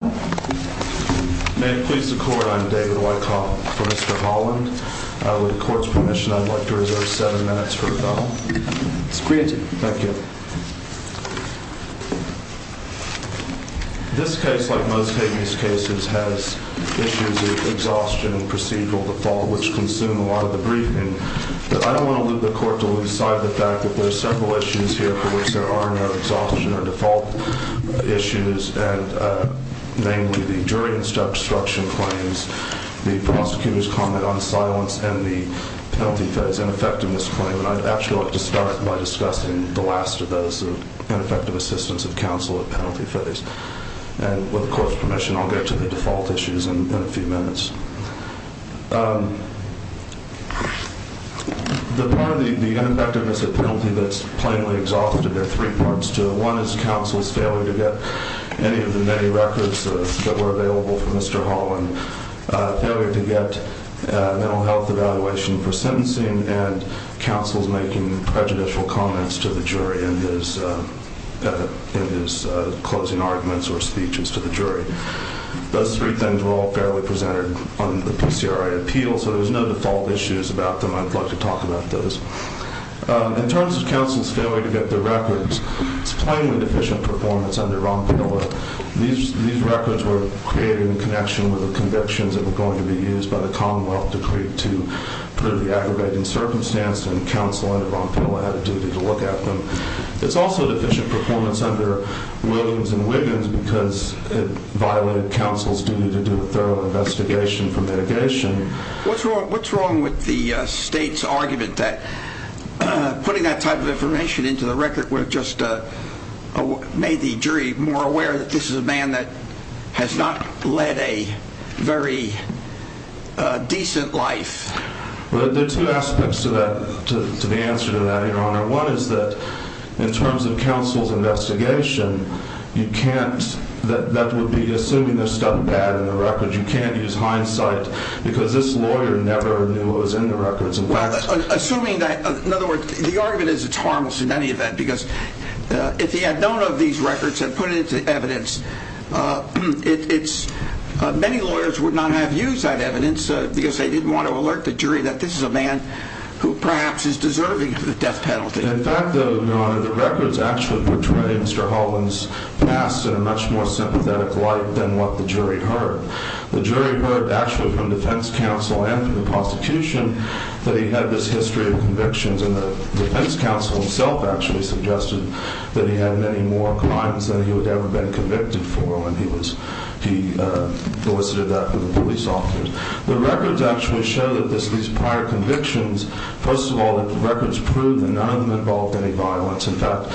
May it please the Court, I'm David Weickhoff for Mr. Holland. With the Court's permission, I'd like to reserve seven minutes for rebuttal. It's granted. Thank you. This case, like most habeas cases, has issues of exhaustion and procedural default, which consume a lot of the briefing. But I don't want to leave the Court to lose sight of the fact that there are several issues here for which there are no exhaustion or default issues. Namely, the jury obstruction claims, the prosecutor's comment on silence, and the penalty phase ineffectiveness claim. And I'd actually like to start by discussing the last of those, the ineffective assistance of counsel at penalty phase. And with the Court's permission, I'll get to the default issues in a few minutes. The part of the ineffectiveness of penalty that's plainly exhausted, there are three parts to it. One is counsel's failure to get any of the many records that were available for Mr. Holland, failure to get a mental health evaluation for sentencing, and counsel's making prejudicial comments to the jury in his closing arguments or speeches to the jury. Those three things were all fairly presented on the PCRA appeal, so there's no default issues about them. I'd like to talk about those. In terms of counsel's failure to get the records, it's plainly deficient performance under Ron Pilla. These records were created in connection with the convictions that were going to be used by the Commonwealth to create two pretty aggravating circumstances, and counsel under Ron Pilla had a duty to look at them. It's also deficient performance under Williams and Wiggins because it violated counsel's duty to do a thorough investigation for mitigation. What's wrong with the state's argument that putting that type of information into the record would have just made the jury more aware that this is a man that has not led a very decent life? There are two aspects to the answer to that, Your Honor. One is that in terms of counsel's investigation, that would be assuming there's stuff bad in the record. You can't use hindsight because this lawyer never knew what was in the records. Assuming that, in other words, the argument is it's harmless in any event because if he had known of these records and put it into evidence, many lawyers would not have used that evidence because they didn't want to alert the jury that this is a man who perhaps is deserving of the death penalty. In fact, Your Honor, the records actually portray Mr. Holland's past in a much more sympathetic light than what the jury heard. The jury heard actually from defense counsel and from the prosecution that he had this history of convictions, and the defense counsel himself actually suggested that he had many more crimes than he would have ever been convicted for when he solicited that from the police officers. The records actually show that these prior convictions, first of all, the records prove that none of them involved any violence. In fact,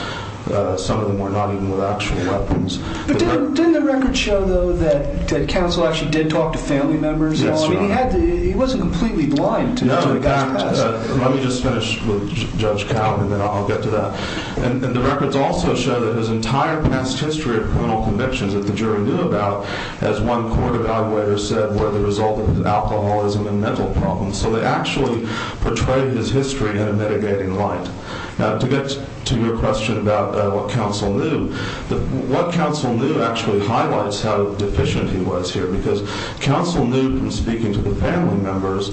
some of them were not even with actual weapons. But didn't the records show, though, that counsel actually did talk to family members? Yes, Your Honor. I mean, he wasn't completely blind to the guy's past. Let me just finish with Judge Cowden and then I'll get to that. And the records also show that his entire past history of criminal convictions that the jury knew about, as one court evaluator said, were the result of alcoholism and mental problems. So they actually portray his history in a mitigating light. Now, to get to your question about what counsel knew, what counsel knew actually highlights how deficient he was here because counsel knew from speaking to the family members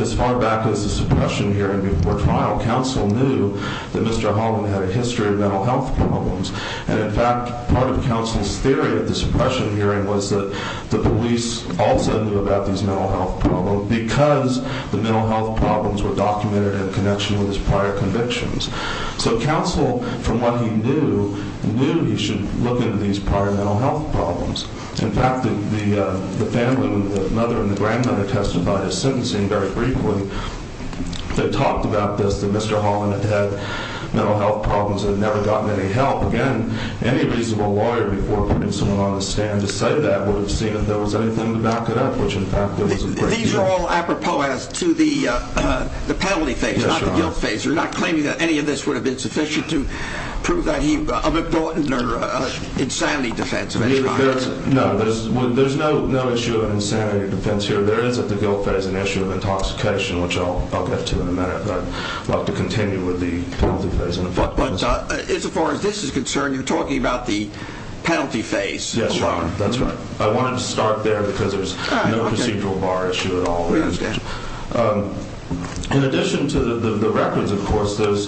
as far back as the suppression hearing before trial, counsel knew that Mr. Holland had a history of mental health problems. And, in fact, part of counsel's theory at the suppression hearing was that the police also knew about these mental health problems because the mental health problems were documented in connection with his prior convictions. So counsel, from what he knew, knew he should look into these prior mental health problems. In fact, the family, the mother and the grandmother testified as sentencing very briefly. They talked about this, that Mr. Holland had mental health problems and had never gotten any help. Again, any reasonable lawyer before putting someone on the stand to cite that would have seen if there was anything to back it up, which, in fact, there was a great deal. These are all apropos as to the penalty phase, not the guilt phase. You're not claiming that any of this would have been sufficient to prove that he of important or insanity defense of any kind. No, there's no issue of insanity defense here. There is at the guilt phase an issue of intoxication, which I'll get to in a minute. But I'd like to continue with the penalty phase. But as far as this is concerned, you're talking about the penalty phase alone. Yes, Your Honor, that's right. I wanted to start there because there's no procedural bar issue at all. In addition to the records, of course, those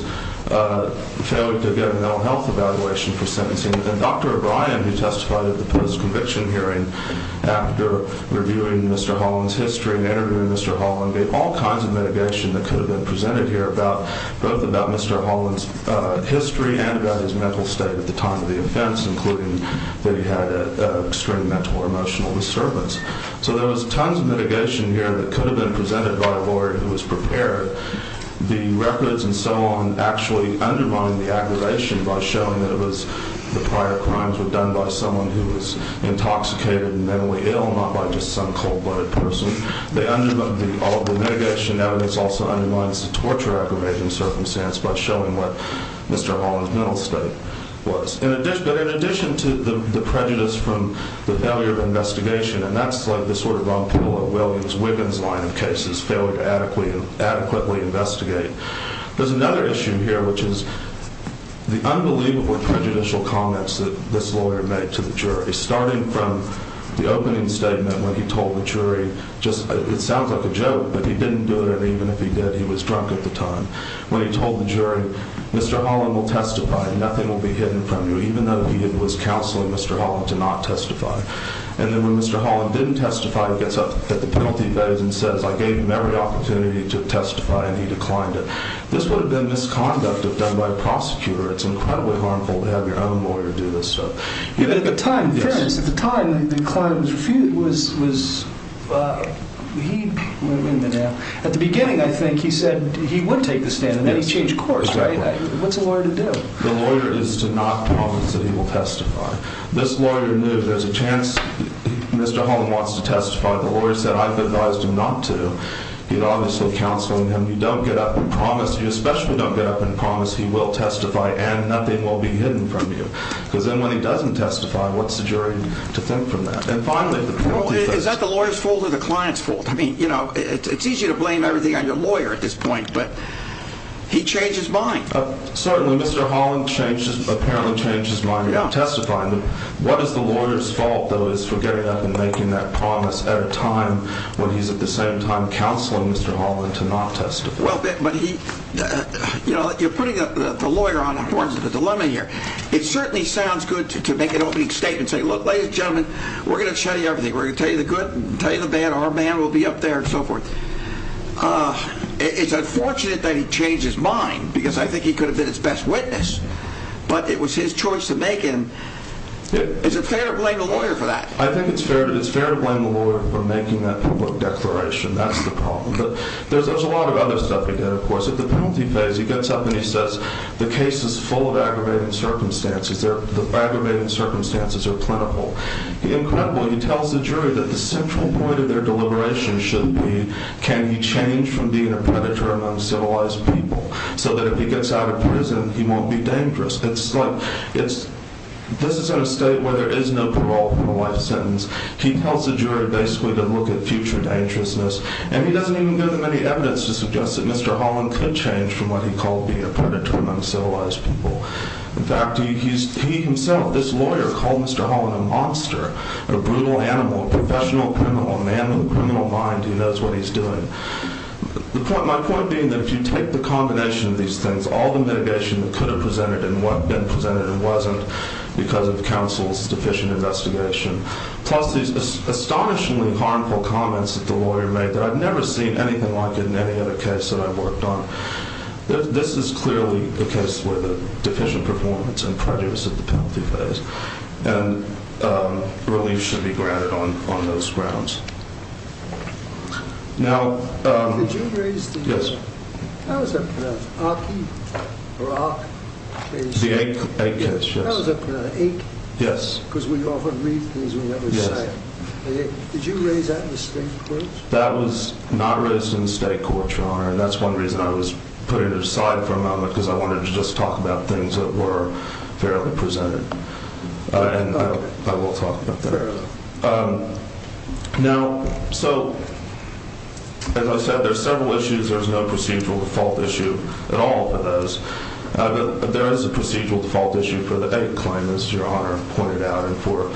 failed to get a mental health evaluation for sentencing. And Dr. O'Brien, who testified at the post-conviction hearing after reviewing Mr. Holland's history and interviewing Mr. Holland, made all kinds of mitigation that could have been presented here about both about Mr. Holland's history and about his mental state at the time of the offense, including that he had extreme mental or emotional disturbance. So there was tons of mitigation here that could have been presented by a lawyer who was prepared. The records and so on actually undermined the aggravation by showing that it was the prior crimes were done by someone who was intoxicated and mentally ill, not by just some cold-blooded person. The mitigation evidence also undermines the torture aggravation circumstance by showing what Mr. Holland's mental state was. But in addition to the prejudice from the failure of investigation, and that's like the sort of Ron Polo, Williams, Wiggins line of cases, failure to adequately investigate, there's another issue here, which is the unbelievable prejudicial comments that this lawyer made to the jury, starting from the opening statement when he told the jury, it sounds like a joke, but he didn't do it, and even if he did, he was drunk at the time, when he told the jury, Mr. Holland will testify and nothing will be hidden from you, even though he was counseling Mr. Holland to not testify. And then when Mr. Holland didn't testify, he gets up at the penalty bed and says, I gave him every opportunity to testify, and he declined it. This would have been misconduct if done by a prosecutor. It's incredibly harmful to have your own lawyer do this stuff. But at the time, at the time the client was was was he at the beginning? I think he said he would take the stand and then he changed course. Right. What's the lawyer to do? The lawyer is to not promise that he will testify. This lawyer knew there's a chance Mr. Holland wants to testify. The lawyer said I've advised him not to. He'd obviously counseling him. You don't get up and promise you especially don't get up and promise he will testify and nothing will be hidden from you. Because then when he doesn't testify, what's the jury to think from that? And finally, is that the lawyer's fault or the client's fault? I mean, you know, it's easy to blame everything on your lawyer at this point, but he changed his mind. Certainly, Mr. Holland changed, apparently changed his mind about testifying. What is the lawyer's fault, though, is for getting up and making that promise at a time when he's at the same time counseling Mr. Holland to not testify? Well, but he, you know, you're putting the lawyer on the horse of the dilemma here. It certainly sounds good to make an opening statement and say, look, ladies and gentlemen, we're going to tell you everything. We're going to tell you the good and tell you the bad. Our man will be up there and so forth. It's unfortunate that he changed his mind because I think he could have been his best witness, but it was his choice to make him. Is it fair to blame the lawyer for that? I think it's fair. It's fair to blame the lawyer for making that public declaration. That's the problem. But there's a lot of other stuff he did, of course. At the penalty phase, he gets up and he says the case is full of aggravating circumstances. The aggravating circumstances are plentiful. Incredibly, he tells the jury that the central point of their deliberation should be, can he change from being a predator among civilized people so that if he gets out of prison, he won't be dangerous? This is in a state where there is no parole for a life sentence. He tells the jury basically to look at future dangerousness, and he doesn't even give them any evidence to suggest that Mr. Holland could change from what he called being a predator among civilized people. In fact, he himself, this lawyer, called Mr. Holland a monster, a brutal animal, a professional criminal, a man with a criminal mind who knows what he's doing. My point being that if you take the combination of these things, all the mitigation that could have been presented and wasn't because of counsel's deficient investigation, plus these astonishingly harmful comments that the lawyer made that I've never seen anything like it in any other case that I've worked on. This is clearly a case with a deficient performance and prejudice at the penalty phase, and relief should be granted on those grounds. Now, yes, that was not raised in the state court, Your Honor, and that's one reason I was putting it aside for a moment because I wanted to just talk about things that were fairly presented. And I will talk about that. Now, so, as I said, there's several issues. There's no procedural default issue at all for those. There is a procedural default issue for the AIC claim, as Your Honor pointed out, and for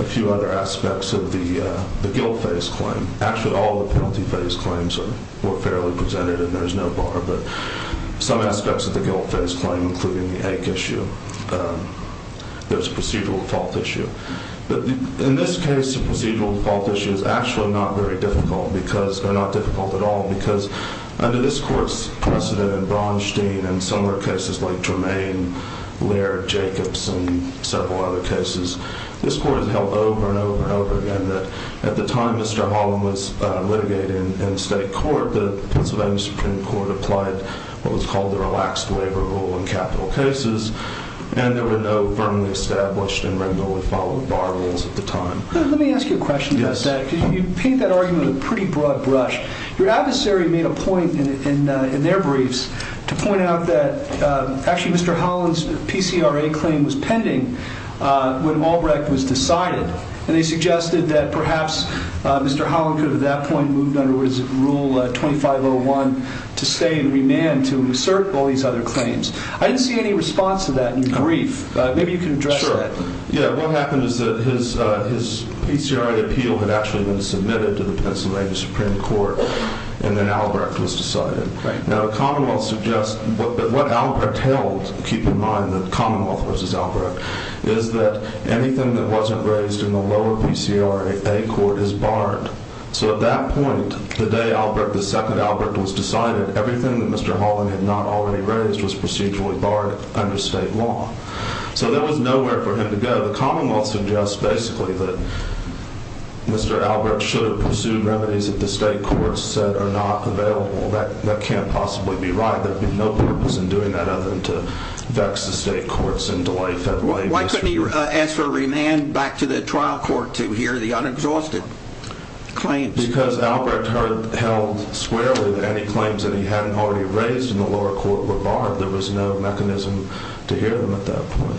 a few other aspects of the guilt phase claim. There's a procedural default issue. In this case, the procedural default issue is actually not very difficult because, or not difficult at all, because under this court's precedent in Bronstein and similar cases like Tremaine, Laird, Jacobs, and several other cases, this court has held over and over and over again that at the time Mr. Holland was litigated in state court, the Pennsylvania Supreme Court applied what was called the relaxed waiver rule in capital cases. And there were no firmly established and regularly followed bar rules at the time. Let me ask you a question about that because you paint that argument with a pretty broad brush. Your adversary made a point in their briefs to point out that actually Mr. Holland's PCRA claim was pending when Malbrecht was decided. And they suggested that perhaps Mr. Holland could have at that point moved under his Rule 2501 to stay in remand to assert all these other claims. I didn't see any response to that in your brief. Maybe you can address that. Sure. Yeah. What happened is that his PCRA appeal had actually been submitted to the Pennsylvania Supreme Court, and then Malbrecht was decided. Right. Now, what Albrecht held, keep in mind that Commonwealth versus Albrecht, is that anything that wasn't raised in the lower PCRA court is barred. So at that point, the day Albrecht, the second Albrecht was decided, everything that Mr. Holland had not already raised was procedurally barred under state law. So there was nowhere for him to go. The Commonwealth suggests basically that Mr. Albrecht should have pursued remedies that the state courts said are not available. That can't possibly be right. There would be no purpose in doing that other than to vex the state courts and delay federal aid. Why couldn't he ask for a remand back to the trial court to hear the unexhausted claims? Because Albrecht held squarely any claims that he hadn't already raised in the lower court were barred. There was no mechanism to hear them at that point.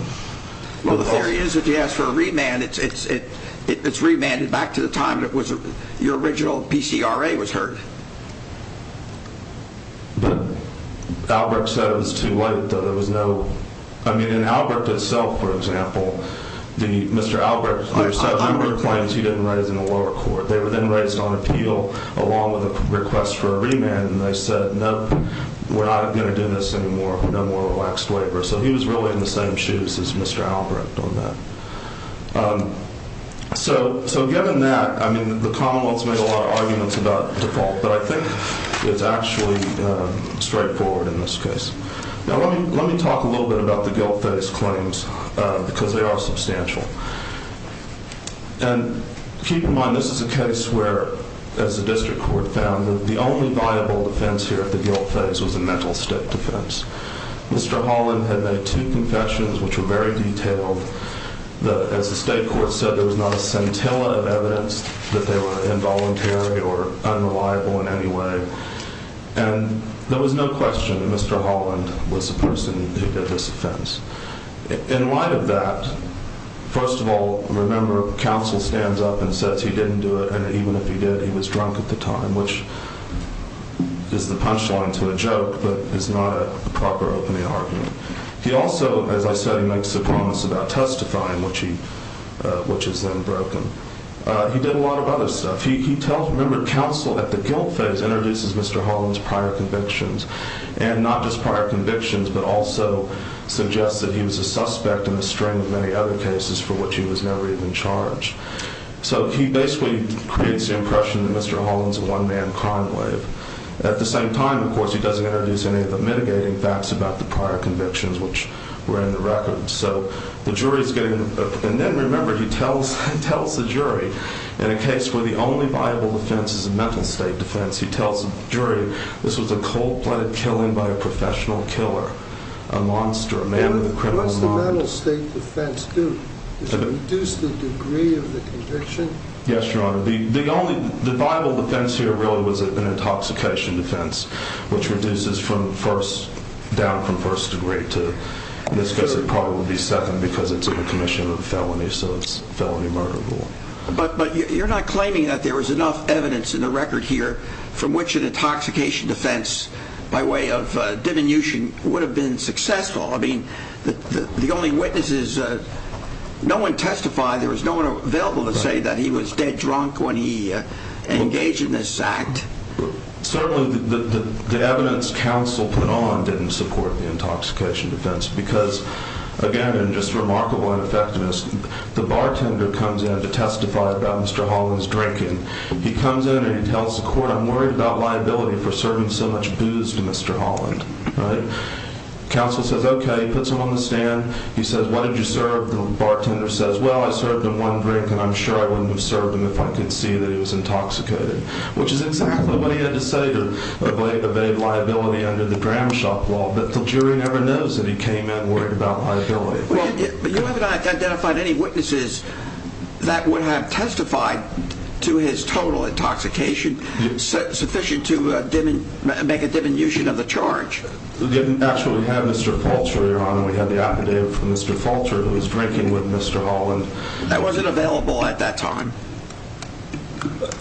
Well, there is if you ask for a remand. It's remanded back to the time that your original PCRA was heard. But Albrecht said it was too late. There was no, I mean, in Albrecht itself, for example, Mr. Albrecht, there were several claims he didn't raise in the lower court. They were then raised on appeal along with a request for a remand. And they said, no, we're not going to do this anymore. No more relaxed waiver. So he was really in the same shoes as Mr. Albrecht on that. So, so given that, I mean, the Commonwealth's made a lot of arguments about default, but I think it's actually straightforward in this case. Now, let me let me talk a little bit about the guilt phase claims because they are substantial. And keep in mind, this is a case where, as the district court found, the only viable defense here at the guilt phase was a mental state defense. Mr. Holland had made two confessions, which were very detailed. As the state court said, there was not a scintilla of evidence that they were involuntary or unreliable in any way. And there was no question that Mr. Holland was the person who did this offense. In light of that, first of all, remember, counsel stands up and says he didn't do it. And even if he did, he was drunk at the time, which is the punchline to a joke, but it's not a proper opening argument. He also, as I said, he makes a promise about testifying, which he, which is then broken. He did a lot of other stuff. He tells, remember, counsel at the guilt phase introduces Mr. Holland's prior convictions and not just prior convictions, but also suggests that he was a suspect in a string of many other cases for which he was never even charged. So he basically creates the impression that Mr. Holland's a one-man crime wave. At the same time, of course, he doesn't introduce any of the mitigating facts about the prior convictions, which were in the record. So the jury's getting, and then remember, he tells the jury in a case where the only viable defense is a mental state defense, he tells the jury this was a cold-blooded killing by a professional killer, a monster, a man with a criminal mind. What does the mental state defense do? Does it reduce the degree of the conviction? Yes, Your Honor. The only, the viable defense here really was an intoxication defense, which reduces from first, down from first degree to this, because it probably would be second because it's a commission of a felony, so it's felony murder rule. But you're not claiming that there was enough evidence in the record here from which an intoxication defense, by way of diminution, would have been successful. I mean, the only witnesses, no one testified. There was no one available to say that he was dead drunk when he engaged in this act. Certainly, the evidence counsel put on didn't support the intoxication defense because, again, in just remarkable ineffectiveness, the bartender comes in to testify about Mr. Holland's drinking. He comes in and he tells the court, I'm worried about liability for serving so much booze to Mr. Holland. Counsel says, okay. Puts him on the stand. He says, why did you serve? The bartender says, well, I served him one drink and I'm sure I wouldn't have served him if I could see that he was intoxicated, which is exactly what he had to say to evade liability under the Gramshop law. But the jury never knows that he came in worried about liability. But you haven't identified any witnesses that would have testified to his total intoxication, sufficient to make a diminution of the charge. We didn't actually have Mr. Fulcher, Your Honor. We had the affidavit from Mr. Fulcher who was drinking with Mr. Holland. That wasn't available at that time.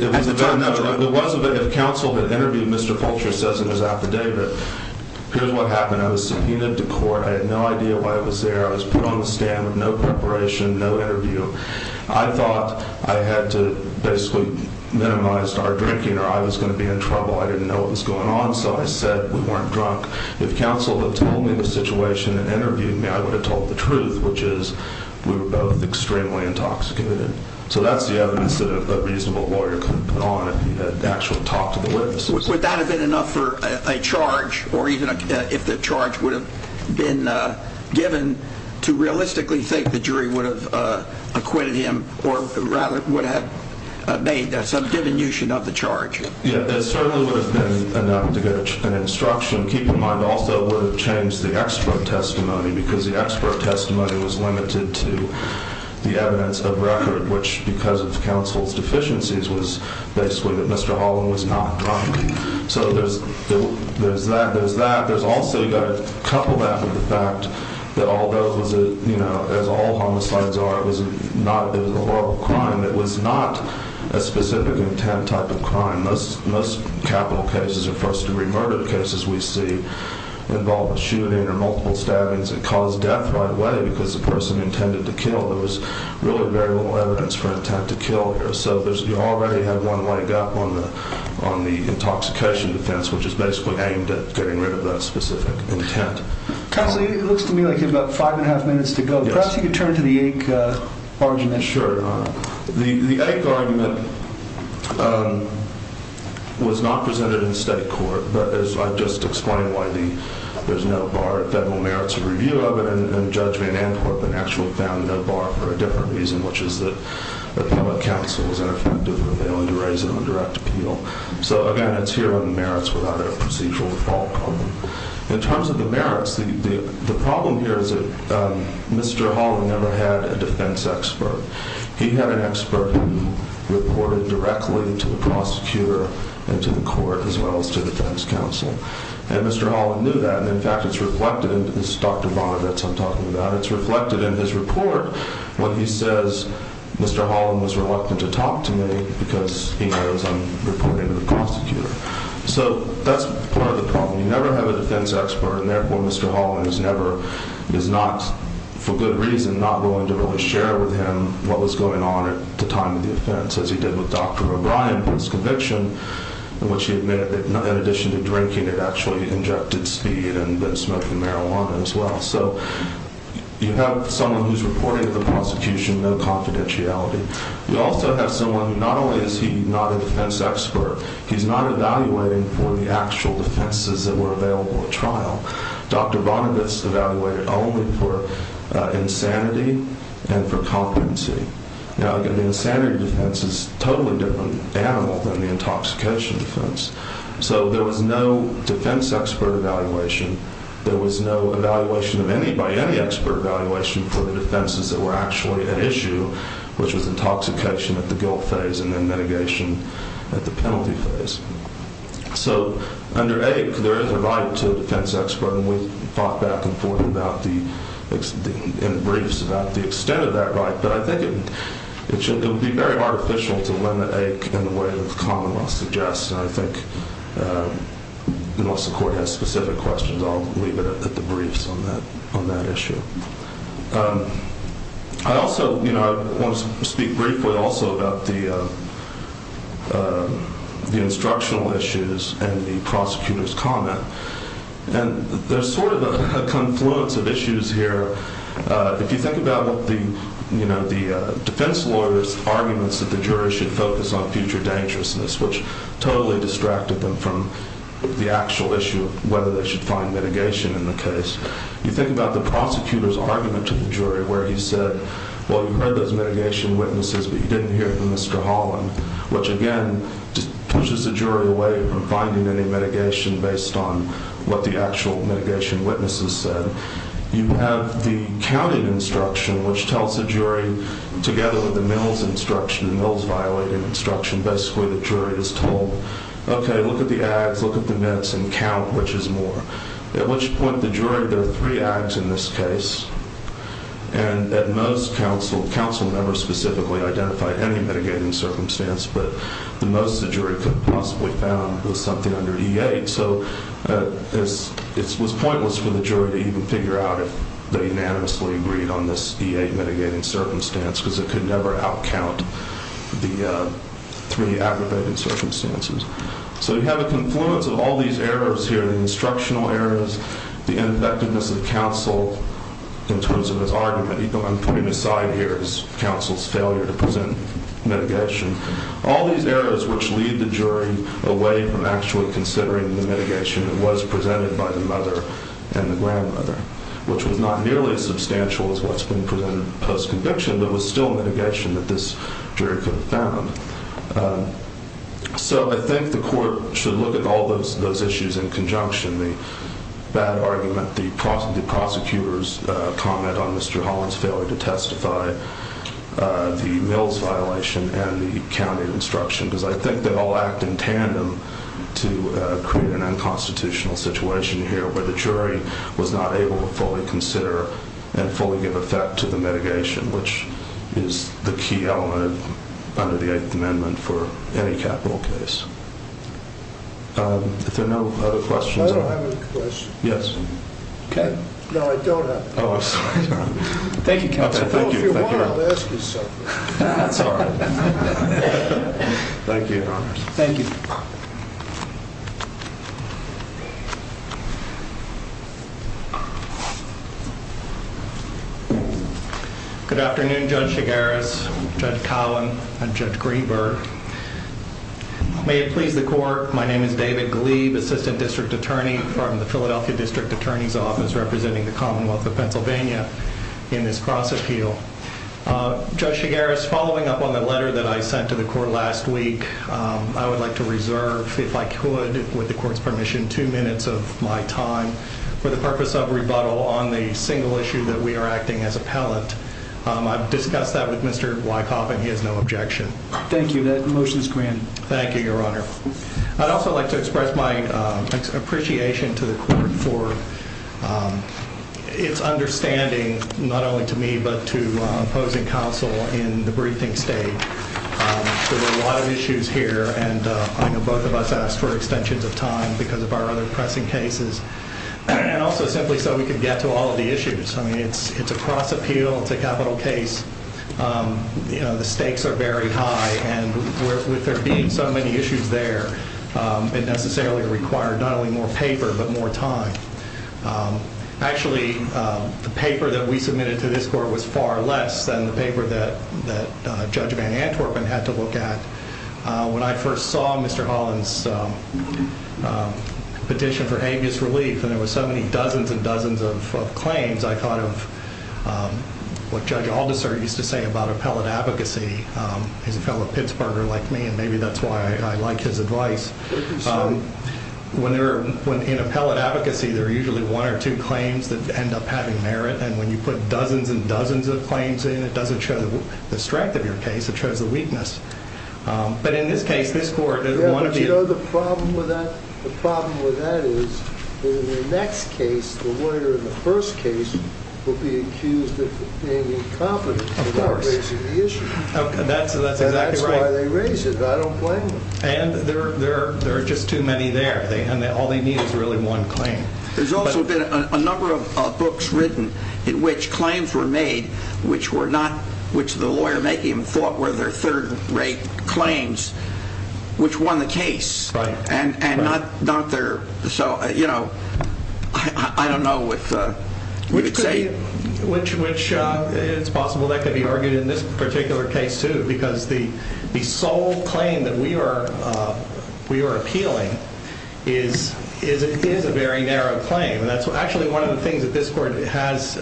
It was available. If counsel had interviewed Mr. Fulcher, it says in his affidavit, here's what happened. I was subpoenaed to court. I had no idea why I was there. I was put on the stand with no preparation, no interview. I thought I had to basically minimize our drinking or I was going to be in trouble. I didn't know what was going on, so I said we weren't drunk. If counsel had told me the situation and interviewed me, I would have told the truth, which is we were both extremely intoxicated. So that's the evidence that a reasonable lawyer could put on if he had actually talked to the witness. Would that have been enough for a charge or even if the charge would have been given to realistically think the jury would have acquitted him or rather would have made some diminution of the charge? It certainly would have been enough to get an instruction. Keep in mind also it would have changed the extra testimony because the extra testimony was limited to the evidence of record, which because of counsel's deficiencies was basically that Mr. Holland was not drunk. So there's that, there's that. There's also, you've got to couple that with the fact that although, as all homicides are, it was a horrible crime, it was not a specific intent type of crime. Most capital cases or first-degree murder cases we see involve a shooting or multiple stabbings. It caused death right away because the person intended to kill. There was really very little evidence for intent to kill here. So you already have one leg up on the intoxication defense, which is basically aimed at getting rid of that specific intent. Counsel, it looks to me like you have about five and a half minutes to go. Perhaps you could turn to the AIC argument. Sure. The AIC argument was not presented in state court, but as I've just explained why there's no bar at federal merits review of it, and Judge Van Antwerp in actuality found no bar for a different reason, which is that the public counsel was ineffective and they wanted to raise it on direct appeal. So, again, it's here on the merits without a procedural default on them. In terms of the merits, the problem here is that Mr. Holland never had a defense expert. He had an expert who reported directly to the prosecutor and to the court as well as to the defense counsel. And Mr. Holland knew that. And, in fact, it's reflected in his report when he says Mr. Holland was reluctant to talk to me because he knows I'm reporting to the prosecutor. So that's part of the problem. You never have a defense expert and, therefore, Mr. Holland is not, for good reason, not willing to really share with him what was going on at the time of the offense, as he did with Dr. O'Brien and his conviction, in which he admitted that in addition to drinking, it actually injected speed and smoking marijuana as well. So you have someone who's reporting to the prosecution, no confidentiality. You also have someone who not only is he not a defense expert, he's not evaluating for the actual defenses that were available at trial. Dr. Bonovitz evaluated only for insanity and for competency. Now, the insanity defense is a totally different animal than the intoxication defense. So there was no defense expert evaluation. There was no evaluation of any by any expert evaluation for the defenses that were actually at issue, which was intoxication at the guilt phase and then mitigation at the penalty phase. So under AIC, there is a right to a defense expert, and we've fought back and forth in briefs about the extent of that right. But I think it would be very artificial to limit AIC in the way that the common law suggests. And I think, unless the court has specific questions, I'll leave it at the briefs on that issue. I also want to speak briefly also about the instructional issues and the prosecutor's comment. And there's sort of a confluence of issues here. If you think about the defense lawyer's arguments that the jury should focus on future dangerousness, which totally distracted them from the actual issue of whether they should find mitigation in the case. You think about the prosecutor's argument to the jury where he said, well, you heard those mitigation witnesses, but you didn't hear from Mr. Holland, which, again, pushes the jury away from finding any mitigation based on what the actual mitigation witnesses said. You have the counting instruction, which tells the jury, together with the Mills instruction, the Mills violating instruction, basically the jury is told, okay, look at the ads, look at the nets, and count which is more. At which point the jury, there are three ads in this case. And at most, counsel never specifically identified any mitigating circumstance, but the most the jury could have possibly found was something under E8. So it was pointless for the jury to even figure out if they unanimously agreed on this E8 mitigating circumstance because it could never outcount the three aggravating circumstances. So you have a confluence of all these errors here, the instructional errors, the effectiveness of counsel in terms of his argument. I'm putting aside here his counsel's failure to present mitigation. All these errors which lead the jury away from actually considering the mitigation that was presented by the mother and the grandmother, which was not nearly as substantial as what's been presented post-conviction, but was still mitigation that this jury could have found. So I think the court should look at all those issues in conjunction. The bad argument, the prosecutor's comment on Mr. Holland's failure to testify, the Mills violation, and the county instruction, because I think they all act in tandem to create an unconstitutional situation here where the jury was not able to fully consider and fully give effect to the mitigation, which is the key element under the Eighth Amendment for any capital case. If there are no other questions. I don't have any questions. Yes. Okay. No, I don't have any. Oh, I'm sorry. Thank you, counsel. Well, if you want, I'll ask you something. That's all right. Thank you, Your Honor. Thank you. Thank you. Good afternoon, Judge Chigares, Judge Cowan, and Judge Greenberg. May it please the court, my name is David Glebe, Assistant District Attorney from the Philadelphia District Attorney's Office representing the Commonwealth of Pennsylvania in this cross-appeal. Judge Chigares, following up on the letter that I sent to the court last week, I would like to reserve, if I could, with the court's permission, two minutes of my time for the purpose of rebuttal on the single issue that we are acting as appellant. I've discussed that with Mr. Wykoff, and he has no objection. Thank you. That motion is granted. Thank you, Your Honor. I'd also like to express my appreciation to the court for its understanding, not only to me, but to opposing counsel in the briefing state. There were a lot of issues here, and I know both of us asked for extensions of time because of our other pressing cases, and also simply so we could get to all of the issues. I mean, it's a cross-appeal. It's a capital case. The stakes are very high, and with there being so many issues there, it necessarily required not only more paper but more time. Actually, the paper that we submitted to this court was far less than the paper that Judge Van Antwerpen had to look at. When I first saw Mr. Holland's petition for habeas relief, and there were so many dozens and dozens of claims, I thought of what Judge Aldiser used to say about appellate advocacy. He's a fellow Pittsburgher like me, and maybe that's why I like his advice. In appellate advocacy, there are usually one or two claims that end up having merit, and when you put dozens and dozens of claims in, it doesn't show the strength of your case. It shows the weakness. But in this case, this court, one of you— Yeah, but you know, the problem with that is in the next case, the lawyer in the first case will be accused of being incompetent in raising the issue. That's exactly right. That's why they raise it. I don't blame them. And there are just too many there, and all they need is really one claim. There's also been a number of books written in which claims were made which the lawyer making them thought were their third-rate claims, which won the case. Right. And not their—so, you know, I don't know if you would say— Which it's possible that could be argued in this particular case, too, because the sole claim that we are appealing is a very narrow claim. Actually, one of the things that this court has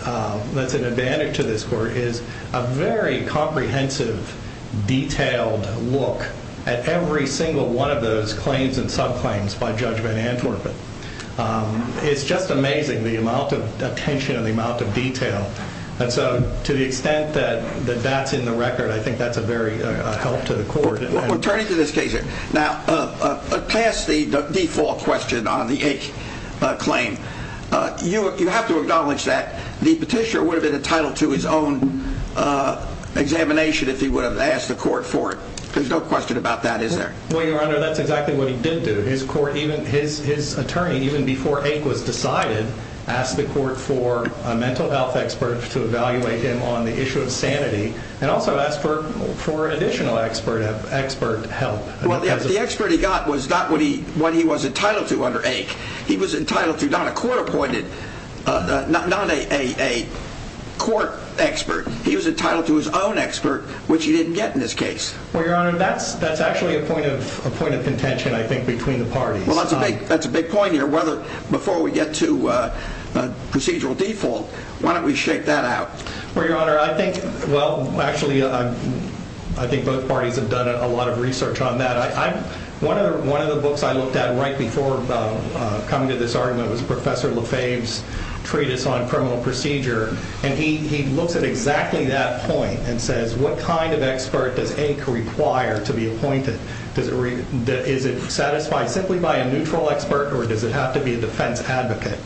that's an advantage to this court is a very comprehensive, detailed look at every single one of those claims and subclaims by Judge Van Antwerpen. It's just amazing the amount of attention and the amount of detail. And so, to the extent that that's in the record, I think that's a very help to the court. We're turning to this case here. Now, past the default question on the Ake claim, you have to acknowledge that the petitioner would have been entitled to his own examination if he would have asked the court for it. There's no question about that, is there? Well, Your Honor, that's exactly what he did do. His attorney, even before Ake was decided, asked the court for a mental health expert to evaluate him on the issue of sanity and also asked for additional expert help. Well, the expert he got was not what he was entitled to under Ake. He was entitled to not a court-appointed, not a court expert. He was entitled to his own expert, which he didn't get in this case. Well, Your Honor, that's actually a point of contention, I think, between the parties. Well, that's a big point here. Before we get to procedural default, why don't we shake that out? Well, Your Honor, I think both parties have done a lot of research on that. One of the books I looked at right before coming to this argument was Professor Lefebvre's Treatise on Criminal Procedure, and he looks at exactly that point and says, what kind of expert does Ake require to be appointed? Is it satisfied simply by a neutral expert, or does it have to be a defense advocate?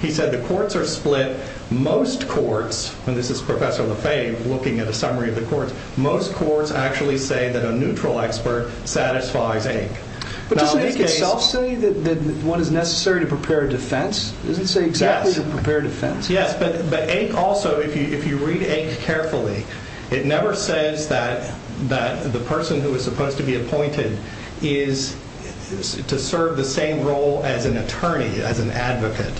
He said the courts are split. Most courts, and this is Professor Lefebvre looking at a summary of the courts, most courts actually say that a neutral expert satisfies Ake. But doesn't Ake itself say that one is necessary to prepare a defense? Does it say exactly to prepare a defense? Yes, but Ake also, if you read Ake carefully, it never says that the person who is supposed to be appointed is to serve the same role as an attorney, as an advocate.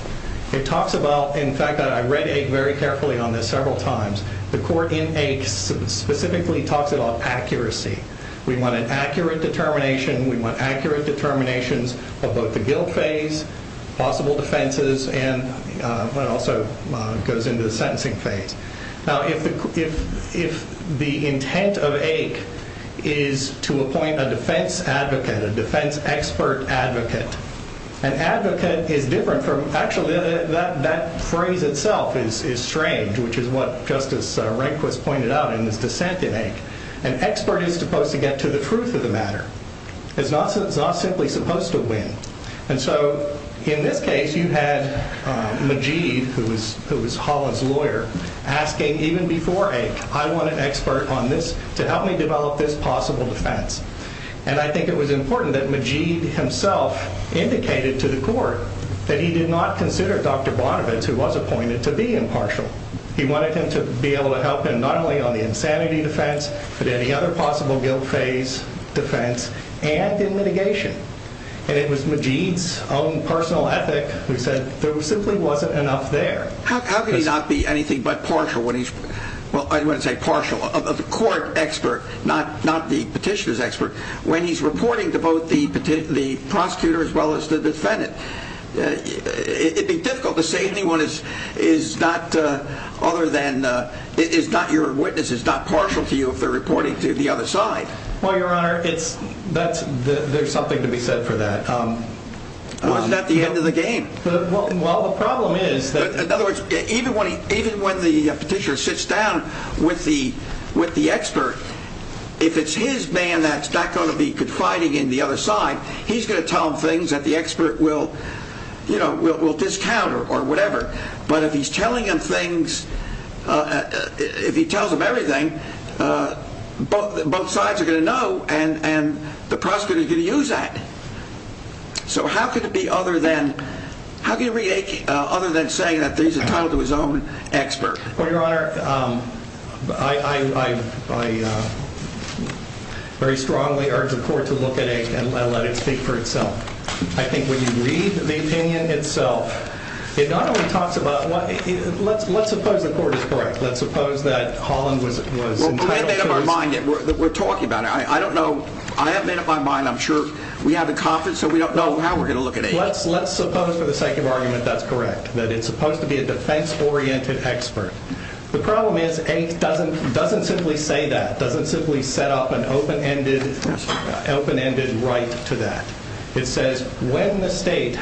It talks about, in fact, I read Ake very carefully on this several times, the court in Ake specifically talks about accuracy. We want an accurate determination. We want accurate determinations of both the guilt phase, possible defenses, and it also goes into the sentencing phase. Now, if the intent of Ake is to appoint a defense advocate, a defense expert advocate, an advocate is different from, actually that phrase itself is strange, which is what Justice Rehnquist pointed out in his dissent in Ake. An expert is supposed to get to the truth of the matter. It's not simply supposed to win. And so, in this case, you had Majeed, who was Holland's lawyer, asking even before Ake, I want an expert on this to help me develop this possible defense. And I think it was important that Majeed himself indicated to the court that he did not consider Dr. Bonovitz, who was appointed, to be impartial. He wanted him to be able to help him not only on the insanity defense, but any other possible guilt phase defense, and in mitigation. And it was Majeed's own personal ethic who said there simply wasn't enough there. How can he not be anything but partial when he's, well, I wouldn't say partial, of the court expert, not the petitioner's expert, when he's reporting to both the prosecutor as well as the defendant? It'd be difficult to say anyone is not other than, is not your witness, is not partial to you if they're reporting to the other side. Well, Your Honor, there's something to be said for that. Wasn't that the end of the game? Well, the problem is that... In other words, even when the petitioner sits down with the expert, if it's his man that's not going to be confiding in the other side, he's going to tell him things that the expert will discount or whatever. But if he's telling him things, if he tells him everything, both sides are going to know, and the prosecutor is going to use that. So how could it be other than saying that he's entitled to his own expert? Well, Your Honor, I very strongly urge the court to look at Aik and let it speak for itself. I think when you read the opinion itself, it not only talks about... Let's suppose the court is correct. Let's suppose that Holland was entitled to his... Well, we haven't made up our mind yet. We're talking about it. I don't know. I haven't made up my mind. I'm sure we have in confidence, so we don't know how we're going to look at Aik. Let's suppose for the sake of argument that's correct, that it's supposed to be a defense-oriented expert. The problem is Aik doesn't simply say that, doesn't simply set up an open-ended right to that. It says when the state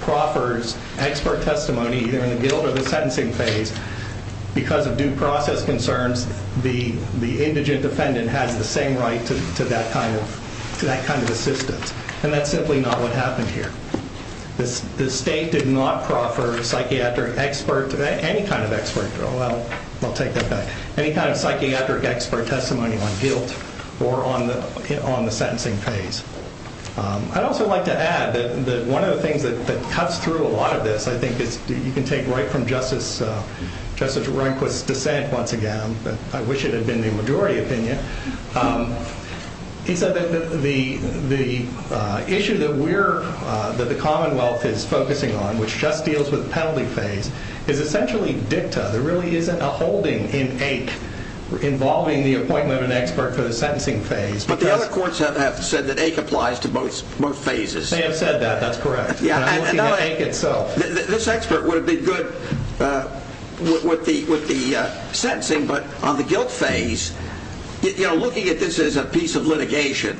proffers expert testimony, either in the guilt or the sentencing phase, because of due process concerns, the indigent defendant has the same right to that kind of assistance. And that's simply not what happened here. The state did not proffer psychiatric expert, any kind of expert. I'll take that back. Any kind of psychiatric expert testimony on guilt or on the sentencing phase. I'd also like to add that one of the things that cuts through a lot of this, I think you can take right from Justice Rehnquist's dissent once again. I wish it had been the majority opinion. He said that the issue that the Commonwealth is focusing on, which just deals with the penalty phase, is essentially dicta. There really isn't a holding in Aik involving the appointment of an expert for the sentencing phase. But the other courts have said that Aik applies to both phases. They have said that. That's correct. But I'm looking at Aik itself. This expert would have been good with the sentencing, but on the guilt phase, looking at this as a piece of litigation,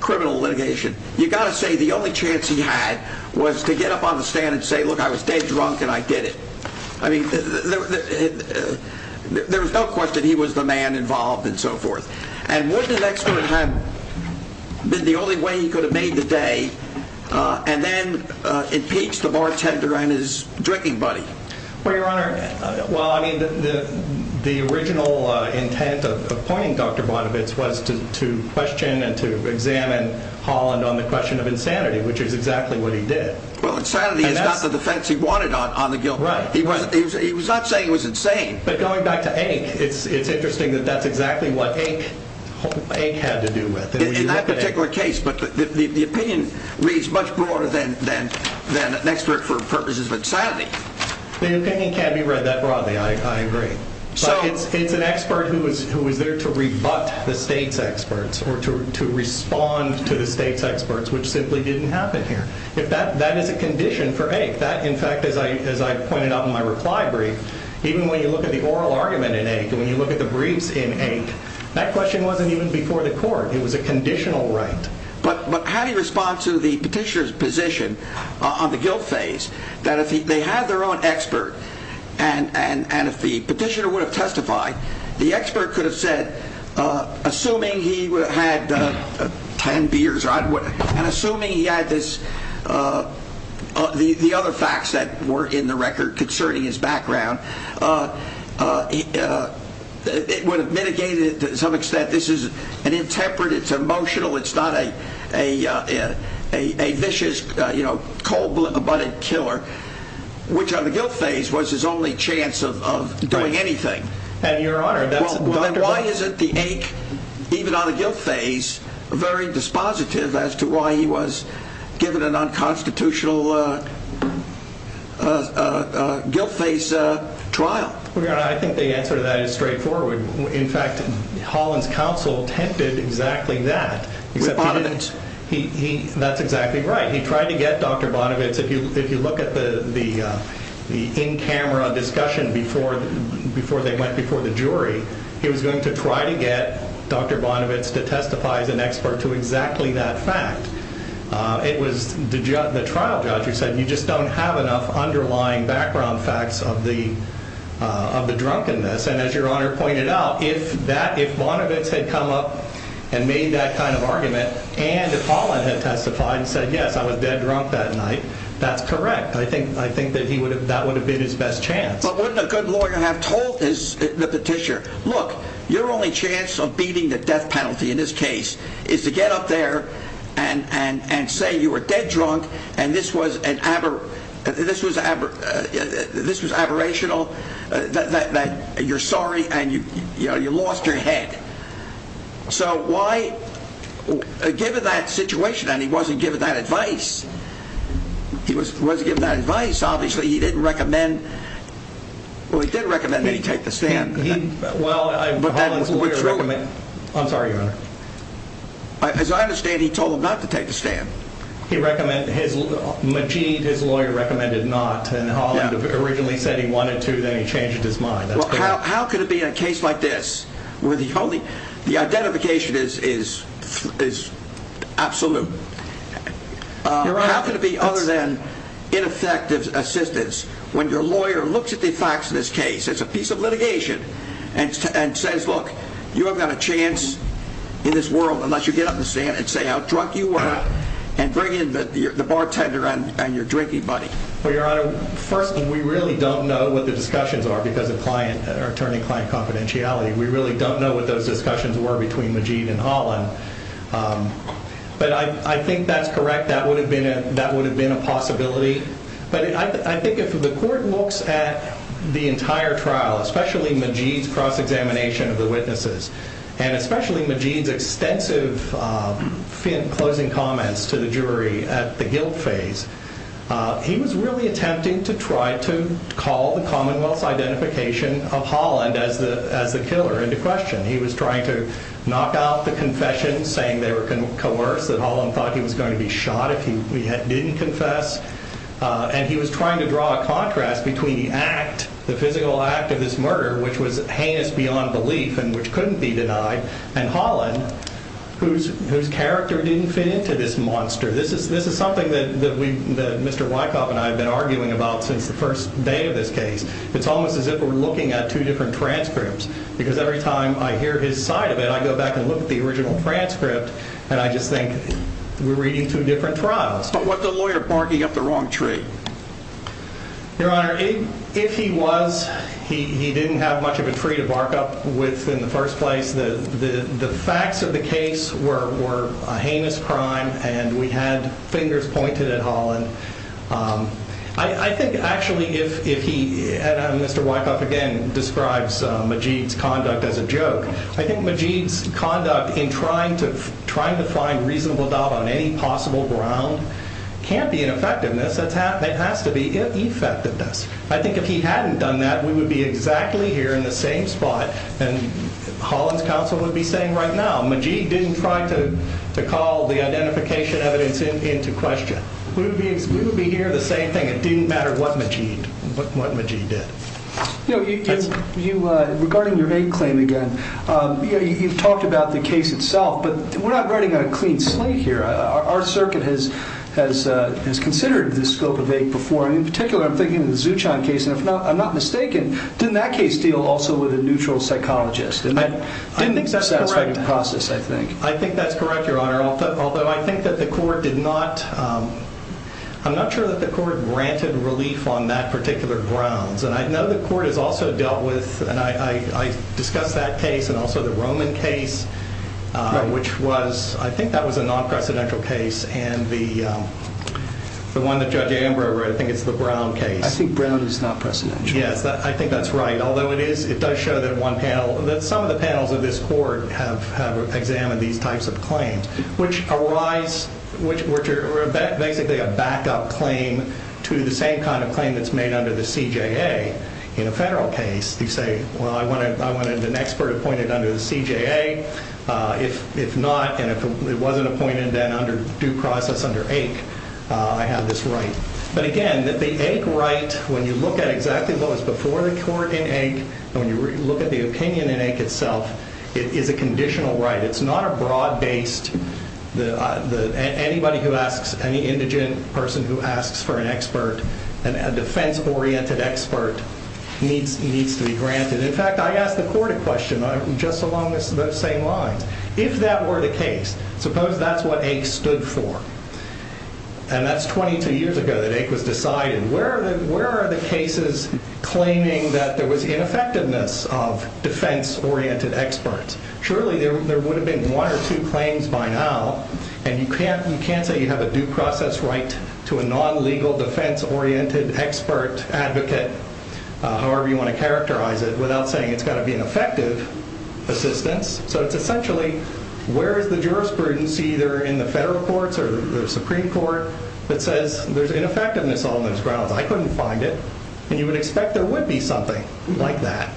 criminal litigation, you've got to say the only chance he had was to get up on the stand and say, look, I was dead drunk and I did it. There was no question he was the man involved and so forth. And wouldn't an expert have been the only way he could have made the day and then impeach the bartender and his drinking buddy? Well, Your Honor, the original intent of appointing Dr. Bonovitz was to question and to examine Holland on the question of insanity, which is exactly what he did. Well, insanity is not the defense he wanted on the guilt phase. He was not saying he was insane. But going back to Aik, it's interesting that that's exactly what Aik had to do with. In that particular case, but the opinion reads much broader than an expert for purposes of insanity. The opinion can't be read that broadly, I agree. But it's an expert who was there to rebut the state's experts or to respond to the state's experts, which simply didn't happen here. That is a condition for Aik. In fact, as I pointed out in my reply brief, even when you look at the oral argument in Aik and when you look at the briefs in Aik, that question wasn't even before the court. It was a conditional right. But how do you respond to the petitioner's position on the guilt phase that if they had their own expert and if the petitioner would have testified, the expert could have said, assuming he had 10 beers, and assuming he had the other facts that were in the record concerning his background, it would have mitigated it to some extent. This is an intemperate, it's emotional, it's not a vicious, cold-blooded killer, which on the guilt phase was his only chance of doing anything. And your honor, that's... Why isn't the Aik, even on the guilt phase, very dispositive as to why he was given an unconstitutional guilt phase trial? Well, your honor, I think the answer to that is straightforward. In fact, Holland's counsel attempted exactly that. With Bonovitz. That's exactly right. He tried to get Dr. Bonovitz. If you look at the in-camera discussion before they went before the jury, he was going to try to get Dr. Bonovitz to testify as an expert to exactly that fact. It was the trial judge who said, you just don't have enough underlying background facts of the drunkenness. And as your honor pointed out, if Bonovitz had come up and made that kind of argument, and if Holland had testified and said, yes, I was dead drunk that night, that's correct. I think that would have been his best chance. But wouldn't a good lawyer have told the petitioner, look, your only chance of beating the death penalty in this case is to get up there and say you were dead drunk and this was aberrational, that you're sorry and you lost your head. So why, given that situation, and he wasn't given that advice, he wasn't given that advice, obviously he didn't recommend, well, he did recommend that he take the stand. Well, Holland's lawyer recommended, I'm sorry, your honor. As I understand, he told him not to take the stand. He recommended, Majeed, his lawyer, recommended not, and Holland originally said he wanted to, then he changed his mind. How could it be in a case like this where the identification is absolute? How could it be other than ineffective assistance when your lawyer looks at the facts of this case, it's a piece of litigation, and says, look, you haven't got a chance in this world unless you get up in the stand and say how drunk you were and bring in the bartender and your drinking buddy. Well, your honor, first, we really don't know what the discussions are because of attorney-client confidentiality. We really don't know what those discussions were between Majeed and Holland. But I think that's correct. That would have been a possibility. But I think if the court looks at the entire trial, especially Majeed's cross-examination of the witnesses, and especially Majeed's extensive fin closing comments to the jury at the guilt phase, he was really attempting to try to call the Commonwealth's identification of Holland as the killer into question. He was trying to knock out the confession, saying they were coerced, that Holland thought he was going to be shot if he didn't confess. And he was trying to draw a contrast between the act, the physical act of this murder, which was heinous beyond belief and which couldn't be denied, and Holland, whose character didn't fit into this monster. This is something that Mr. Wyckoff and I have been arguing about since the first day of this case. It's almost as if we're looking at two different transcripts because every time I hear his side of it, I go back and look at the original transcript and I just think we're reading two different trials. But with the lawyer barking up the wrong tree. Your Honor, if he was, he didn't have much of a tree to bark up with in the first place. The facts of the case were a heinous crime and we had fingers pointed at Holland. I think actually if he, and Mr. Wyckoff again, describes Majid's conduct as a joke, I think Majid's conduct in trying to find reasonable doubt on any possible ground can't be an effectiveness, it has to be effectiveness. I think if he hadn't done that, we would be exactly here in the same spot and Holland's counsel would be saying right now, Majid didn't try to call the identification evidence into question. We would be here the same thing. It didn't matter what Majid did. Regarding your aid claim again, you've talked about the case itself, but we're not writing on a clean slate here. Our circuit has considered this scope of aid before and in particular I'm thinking of the Zuchon case and if I'm not mistaken, didn't that case deal also with a neutral psychologist? I think that's correct, Your Honor, although I think that the court did not, I'm not sure that the court granted relief on that particular grounds and I know the court has also dealt with, and I discussed that case and also the Roman case, which was, I think that was a non-precedential case and the one that Judge Ambro wrote, I think it's the Brown case. I think Brown is not precedential. Yes, I think that's right, although it is, it does show that one panel, that some of the panels of this court have examined these types of claims, which arise, which are basically a backup claim to the same kind of claim that's made under the CJA. In a federal case, you say, well, I wanted an expert appointed under the CJA. If not, and if it wasn't appointed, then under due process under AIC, I have this right. But again, the AIC right, when you look at exactly what was before the court in AIC, when you look at the opinion in AIC itself, it is a conditional right. It's not a broad-based, anybody who asks, any indigent person who asks for an expert, a defense-oriented expert, needs to be granted. In fact, I asked the court a question just along those same lines. If that were the case, suppose that's what AIC stood for, and that's 22 years ago that AIC was decided, where are the cases claiming that there was ineffectiveness of defense-oriented experts? Surely there would have been one or two claims by now, and you can't say you have a due process right to a non-legal defense-oriented expert advocate, however you want to characterize it, without saying it's got to be an effective assistance. So it's essentially, where is the jurisprudence, either in the federal courts or the Supreme Court, that says there's ineffectiveness on those grounds? I couldn't find it. And you would expect there would be something like that,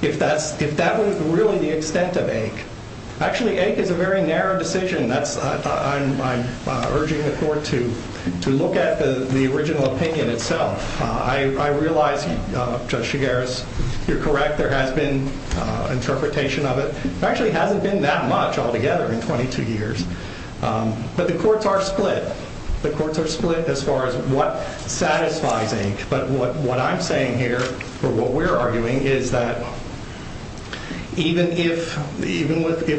if that was really the extent of AIC. Actually, AIC is a very narrow decision. I'm urging the court to look at the original opinion itself. I realize, Judge Chigares, you're correct, there has been interpretation of it. There actually hasn't been that much altogether in 22 years. But the courts are split. The courts are split as far as what satisfies AIC, but what I'm saying here, or what we're arguing, is that even if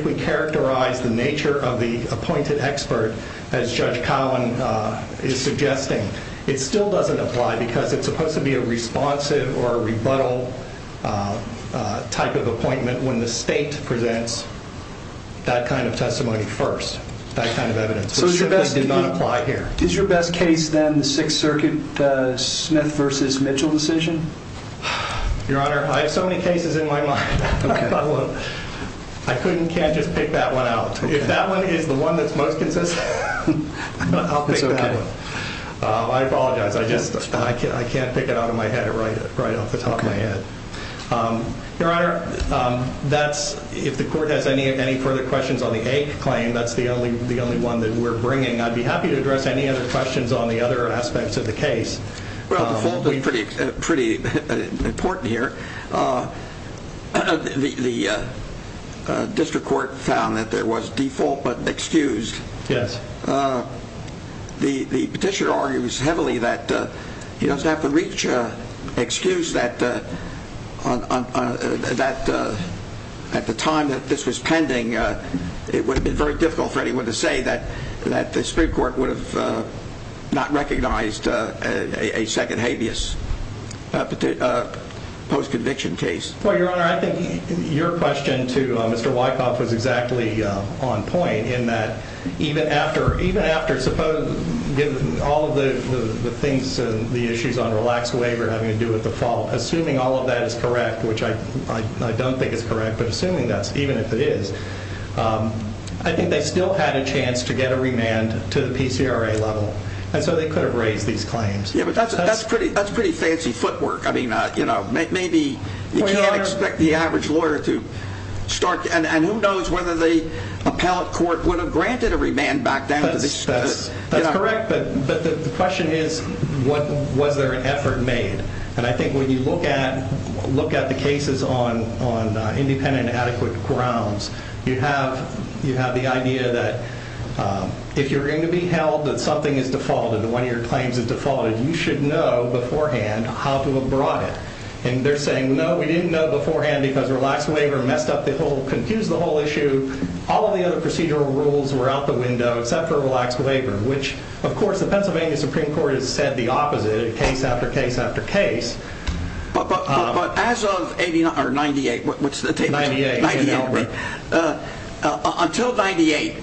we characterize the nature of the appointed expert, as Judge Collin is suggesting, it still doesn't apply, because it's supposed to be a responsive or a rebuttal type of appointment when the state presents that kind of testimony first, that kind of evidence, which simply did not apply here. Is your best case, then, the Sixth Circuit Smith versus Mitchell decision? Your Honor, I have so many cases in my mind. I couldn't, can't just pick that one out. If that one is the one that's most consistent, I'll pick that one. I apologize. I can't pick it out of my head right off the top of my head. Your Honor, if the court has any further questions on the AIC claim, that's the only one that we're bringing. I'd be happy to address any other questions on the other aspects of the case. Well, the fault is pretty important here. The district court found that there was default but excused. Yes. The petitioner argues heavily that he doesn't have to reach an excuse that, at the time that this was pending, it would have been very difficult for anyone to say that the district court would have not recognized a second habeas post-conviction case. Well, Your Honor, I think your question to Mr. Wyckoff was exactly on point in that, even after, suppose, given all of the things, the issues on relaxed waiver having to do with the fault, assuming all of that is correct, which I don't think is correct, but assuming that's, even if it is, I think they still had a chance to get a remand to the PCRA level, and so they could have raised these claims. Yes, but that's pretty fancy footwork. I mean, maybe you can't expect the average lawyer to start, and who knows whether the appellate court would have granted a remand back down to the district. That's correct, but the question is, was there an effort made? And I think when you look at the cases on independent and adequate grounds, you have the idea that if you're going to be held that something is defaulted, one of your claims is defaulted, you should know beforehand how to have brought it, and they're saying, no, we didn't know beforehand because relaxed waiver messed up the whole, confused the whole issue. All of the other procedural rules were out the window except for relaxed waiver, which, of course, the Pennsylvania Supreme Court has said the opposite case after case after case. But as of 98, until 98,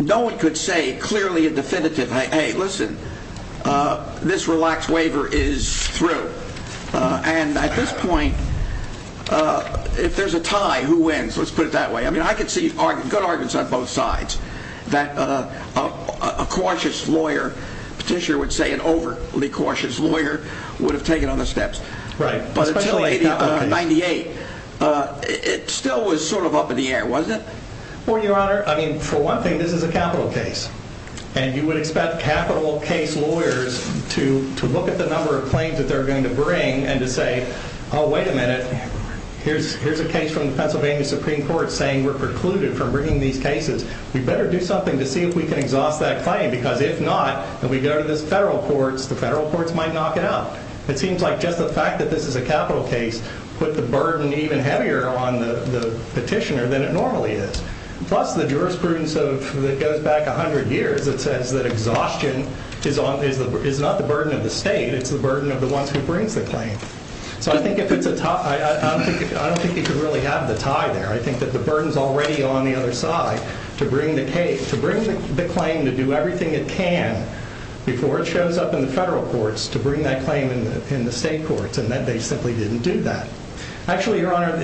no one could say clearly a definitive, hey, listen, this relaxed waiver is through, and at this point, if there's a tie, who wins? Let's put it that way. I mean, I could see good arguments on both sides that a cautious lawyer, petitioner would say and overly cautious lawyer would have taken other steps. But until 98, it still was sort of up in the air, wasn't it? Well, Your Honor, I mean, for one thing, this is a capital case, and you would expect capital case lawyers to look at the number of claims that they're going to bring and to say, oh, wait a minute, here's a case from the Pennsylvania Supreme Court saying we're precluded from bringing these cases. We better do something to see if we can exhaust that claim because if not, then we go to the federal courts. The federal courts might knock it out. It seems like just the fact that this is a capital case put the burden even heavier on the petitioner than it normally is. Plus, the jurisprudence that goes back 100 years that says that exhaustion is not the burden of the state. It's the burden of the ones who brings the claim. So I think if it's a tie, I don't think you could really have the tie there. I think that the burden's already on the other side to bring the claim to do everything it can before it shows up in the federal courts to bring that claim in the state courts, and that they simply didn't do that. Actually, Your Honor,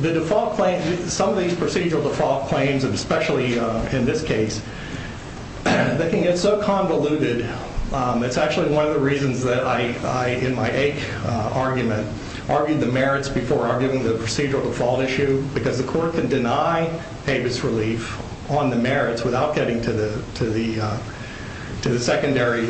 the default claim, some of these procedural default claims, and especially in this case, they can get so convoluted. It's actually one of the reasons that I, in my AIC argument, argued the merits before arguing the procedural default issue because the court can deny ABIS relief on the merits without getting to the secondary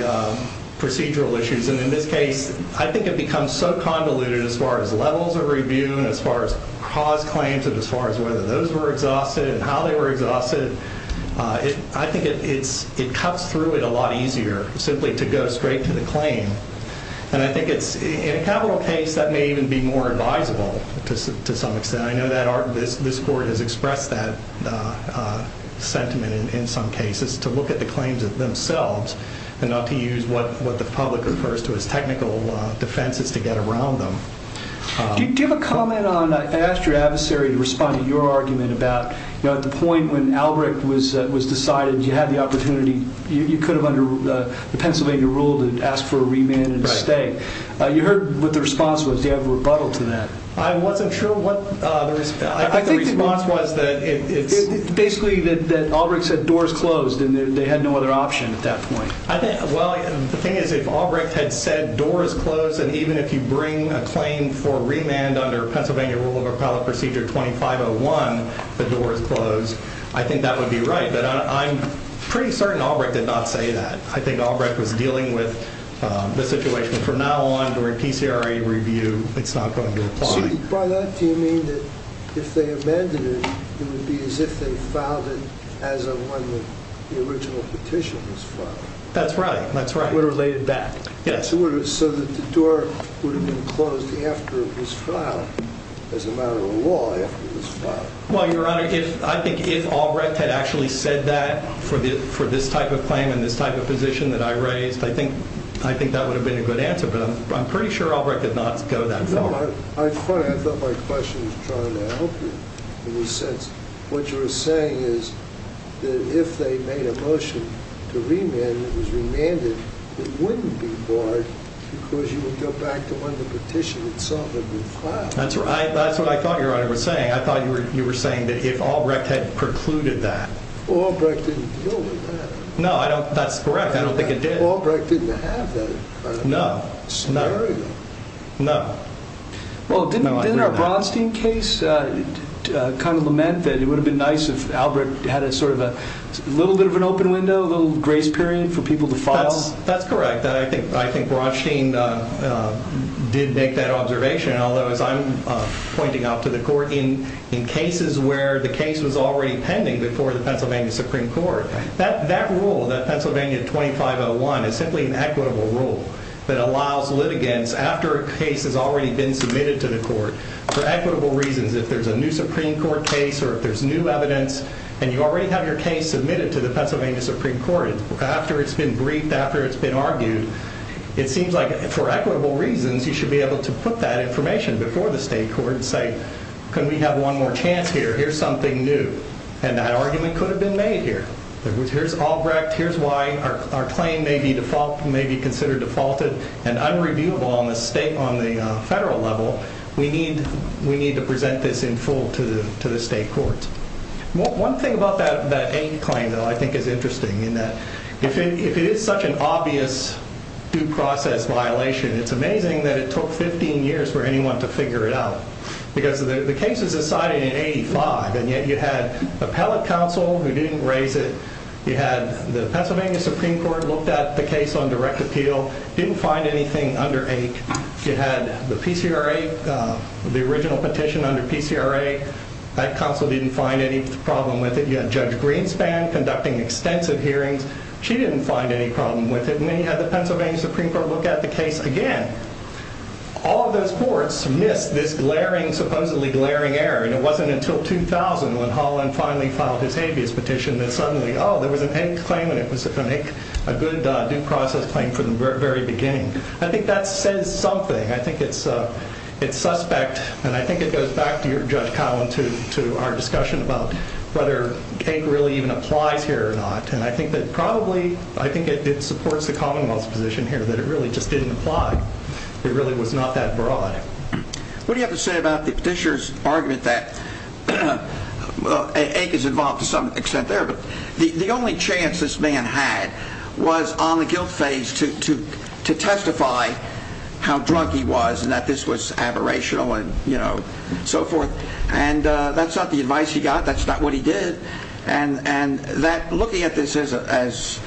procedural issues. And in this case, I think it becomes so convoluted as far as levels of review, and as far as cause claims, and as far as whether those were exhausted and how they were exhausted. I think it cuts through it a lot easier simply to go straight to the claim. And I think in a capital case, that may even be more advisable to some extent. And I know this court has expressed that sentiment in some cases, to look at the claims themselves and not to use what the public refers to as technical defenses to get around them. Do you have a comment on, I asked your adversary to respond to your argument about the point when Albrecht was decided you had the opportunity, you could have under the Pennsylvania rule to ask for a remand and stay. You heard what the response was. Do you have a rebuttal to that? I wasn't sure what the response was. I think the response was that it's basically that Albrecht said doors closed, and they had no other option at that point. I think, well, the thing is, if Albrecht had said doors closed, and even if you bring a claim for remand under Pennsylvania Rule of Appellate Procedure 2501, the doors closed, I think that would be right. But I'm pretty certain Albrecht did not say that. I think Albrecht was dealing with the situation from now on during PCRE review. It's not going to apply. So by that, do you mean that if they amended it, it would be as if they filed it as of when the original petition was filed? That's right. That's right. It would have laid it back. Yes. So that the door would have been closed after it was filed, as a matter of law, after it was filed. Well, Your Honor, I think if Albrecht had actually said that for this type of claim and this type of position that I raised, I think that would have been a good answer. But I'm pretty sure Albrecht did not go that far. You know, I thought my question was trying to help you in the sense, what you were saying is that if they made a motion to remand and it was remanded, it wouldn't be barred because you would go back to when the petition itself had been filed. That's right. That's what I thought Your Honor was saying. I thought you were saying that if Albrecht had precluded that. Well, Albrecht didn't deal with that. No, that's correct. I don't think it did. Albrecht didn't have that scenario. No. No. Well, didn't our Bronstein case kind of lament that it would have been nice if Albrecht had a sort of a little bit of an open window, a little grace period for people to file? That's correct. I think Bronstein did make that observation. Although, as I'm pointing out to the court, in cases where the case was already pending before the Pennsylvania Supreme Court, that rule, that Pennsylvania 2501, is simply an equitable rule that allows litigants, after a case has already been submitted to the court, for equitable reasons, if there's a new Supreme Court case or if there's new evidence and you already have your case submitted to the Pennsylvania Supreme Court, after it's been briefed, after it's been argued, it seems like for equitable reasons you should be able to put that information before the state court and say, can we have one more chance here? Here's something new. And that argument could have been made here. Here's Albrecht. Here's why our claim may be considered defaulted and unreviewable on the federal level. We need to present this in full to the state courts. One thing about that eighth claim, though, I think is interesting in that if it is such an obvious due process violation, it's amazing that it took 15 years for anyone to figure it out. Because the case was decided in 85, and yet you had appellate counsel who didn't raise it. You had the Pennsylvania Supreme Court looked at the case on direct appeal. Didn't find anything under 8. You had the PCRA, the original petition under PCRA. That counsel didn't find any problem with it. You had Judge Greenspan conducting extensive hearings. She didn't find any problem with it. And then you had the Pennsylvania Supreme Court look at the case again. All of those courts missed this glaring, supposedly glaring error. And it wasn't until 2000 when Holland finally filed his habeas petition that suddenly, oh, there was an eighth claim. And it was a good due process claim from the very beginning. I think that says something. I think it's suspect. And I think it goes back to your, Judge Collin, to our discussion about whether cake really even applies here or not. And I think that probably, I think it supports the Commonwealth's position here It really was not that broad. What do you have to say about the petitioner's argument that, well, ache is involved to some extent there. But the only chance this man had was on the guilt phase to testify how drunk he was and that this was aberrational and so forth. And that's not the advice he got. That's not what he did. And looking at this as,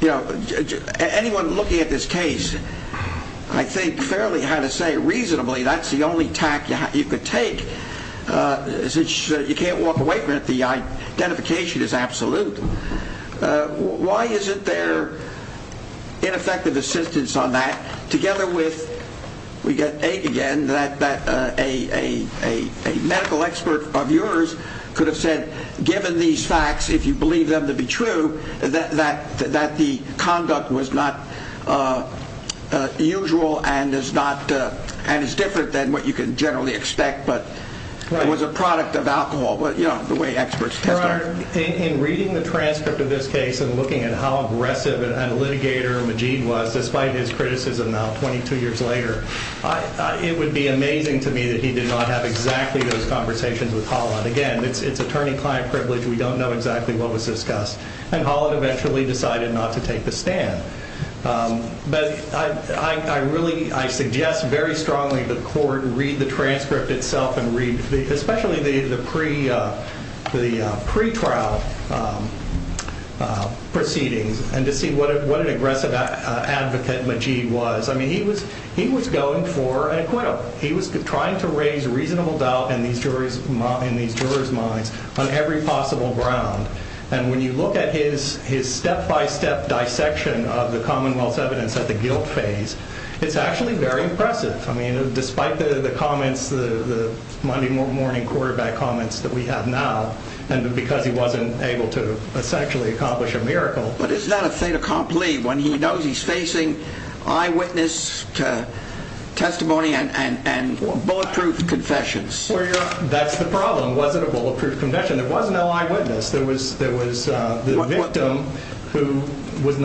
you know, anyone looking at this case, I think, fairly had to say, reasonably, that's the only tack you could take. You can't walk away from it. The identification is absolute. Why isn't there ineffective assistance on that, together with, we get ache again, that a medical expert of yours could have said, given these facts, if you believe them to be true, that the conduct was not usual and is different than what you can generally expect. But it was a product of alcohol, the way experts testified. In reading the transcript of this case and looking at how aggressive a litigator Majeed was, despite his criticism now, 22 years later, it would be amazing to me that he did not have exactly those conversations with Holland. Again, it's attorney-client privilege. We don't know exactly what was discussed. And Holland eventually decided not to take the stand. But I suggest very strongly to the court, read the transcript itself and read, especially the pre-trial proceedings, and to see what an aggressive advocate Majeed was. I mean, he was going for an acquittal. He was trying to raise reasonable doubt in these jurors' minds on every possible ground. And when you look at his step-by-step dissection of the Commonwealth's evidence at the guilt phase, it's actually very impressive. I mean, despite the comments, the Monday morning quarterback comments that we have now, and because he wasn't able to essentially accomplish a miracle. But is that a fait accompli, when he knows he's facing eyewitness testimony and bulletproof confessions? That's the problem. Was it a bulletproof confession? There was no eyewitness. There was the victim who was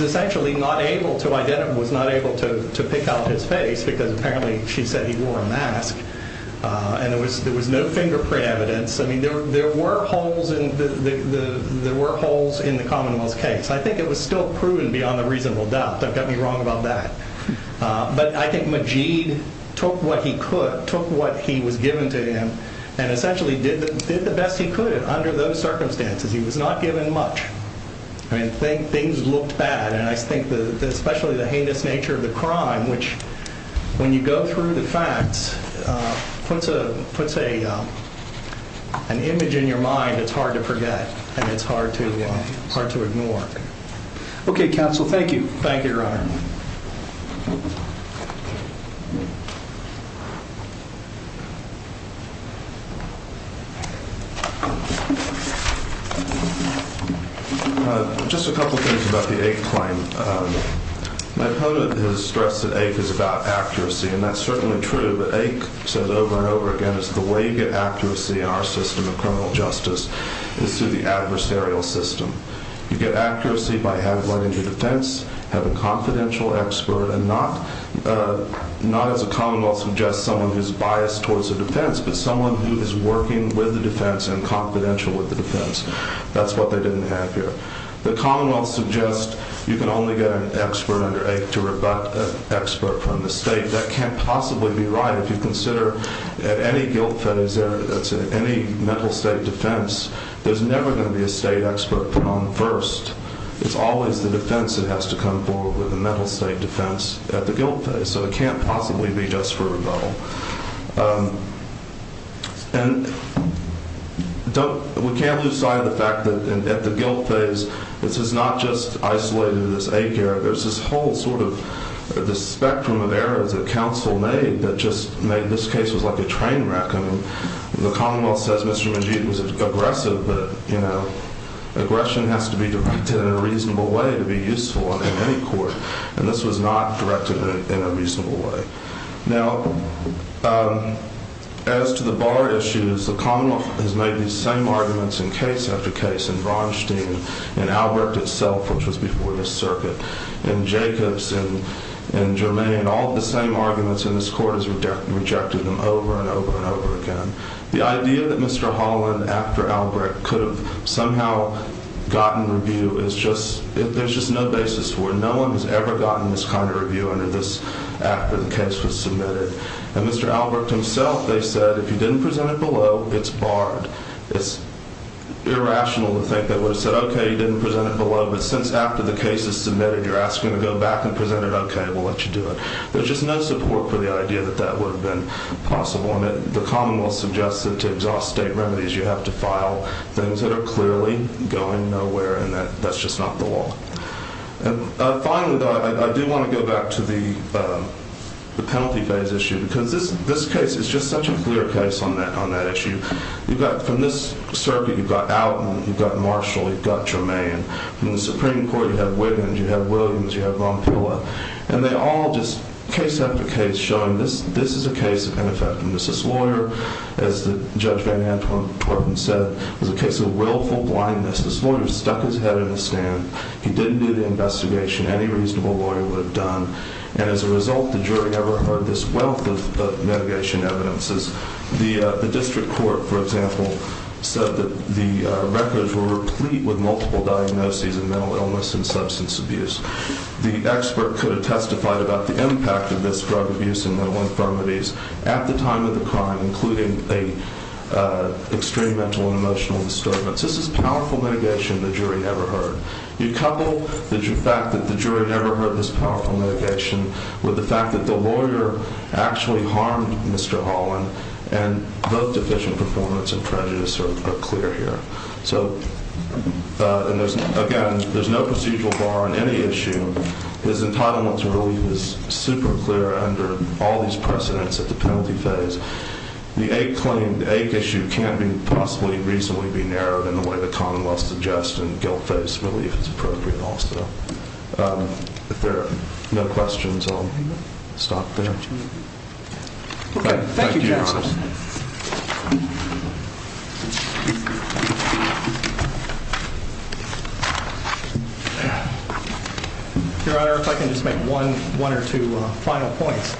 essentially not able to identify, was not able to pick out his face because apparently she said he wore a mask. And there was no fingerprint evidence. I mean, there were holes in the Commonwealth's case. I think it was still proven beyond a reasonable doubt. Don't get me wrong about that. But I think Majeed took what he could, took what he was given to him, and essentially did the best he could under those circumstances. He was not given much. I mean, things looked bad, and I think especially the heinous nature of the crime, which, when you go through the facts, puts an image in your mind that's hard to forget and it's hard to ignore. Okay, counsel, thank you. Thank you, Your Honor. Just a couple of things about the AIC claim. My opponent has stressed that AIC is about accuracy, and that's certainly true. But AIC says over and over again is the way you get accuracy in our system of criminal justice is through the adversarial system. You get accuracy by having one in your defense, have a confidential expert, and not, as the Commonwealth suggests, someone who's biased towards the defense, but someone who is working with the defense and confidential with the defense. That's what they didn't have here. The Commonwealth suggests you can only get an expert under AIC to rebut an expert from the state. That can't possibly be right. If you consider at any guilt fed, that's any mental state defense, there's never going to be a state expert put on first. It's always the defense that has to come forward with a mental state defense at the guilt phase. So it can't possibly be just for rebuttal. And we can't lose sight of the fact that at the guilt phase, this is not just isolated as AIC error. There's this whole sort of spectrum of errors that counsel made that just made this case was like a train wreck. And the Commonwealth says Mr. Majeed was aggressive, but, you know, aggression has to be directed in a reasonable way to be useful in any court, and this was not directed in a reasonable way. Now, as to the bar issues, the Commonwealth has made these same arguments in case after case in Braunstein, in Albrecht itself, which was before this circuit, in Jacobs, in Germain, all of the same arguments in this court has rejected them over and over and over again. The idea that Mr. Holland, after Albrecht, could have somehow gotten review is just... there's just no basis for it. No one has ever gotten this kind of review under this after the case was submitted. And Mr. Albrecht himself, they said, if you didn't present it below, it's barred. It's irrational to think they would have said, okay, you didn't present it below, but since after the case is submitted, you're asking to go back and present it, okay, we'll let you do it. There's just no support for the idea that that would have been possible, and the Commonwealth suggests that to exhaust state remedies, you have to file things that are clearly going nowhere, and that's just not the law. And finally, though, I do want to go back to the penalty phase issue, because this case is just such a clear case on that issue. You've got, from this circuit, you've got Alton, you've got Marshall, you've got Germain. From the Supreme Court, you have Wiggins, you have Williams, you have Montpela. And they all just, case after case, showing this is a case of ineffectiveness. This lawyer, as Judge Van Antwerpen said, was a case of willful blindness. This lawyer stuck his head in the sand. He didn't do the investigation any reasonable lawyer would have done, and as a result, the jury never heard this wealth of mitigation evidences. The district court, for example, said that the records were replete with multiple diagnoses of mental illness and substance abuse. The expert could have testified about the impact of this drug abuse and mental infirmities at the time of the crime, including a extreme mental and emotional disturbance. This is powerful mitigation the jury never heard. You couple the fact that the jury never heard this powerful mitigation with the fact that the lawyer actually harmed Mr. Holland, and both deficient performance and prejudice are clear here. So, again, there's no procedural bar on any issue. His entitlement to relief is super clear under all these precedents at the penalty phase. The ache claim, the ache issue, can't possibly reasonably be narrowed in the way the commonwealth suggests, and guilt-based relief is appropriate also. If there are no questions, I'll stop there. Thank you, Your Honor. Your Honor, if I can just make one or two final points.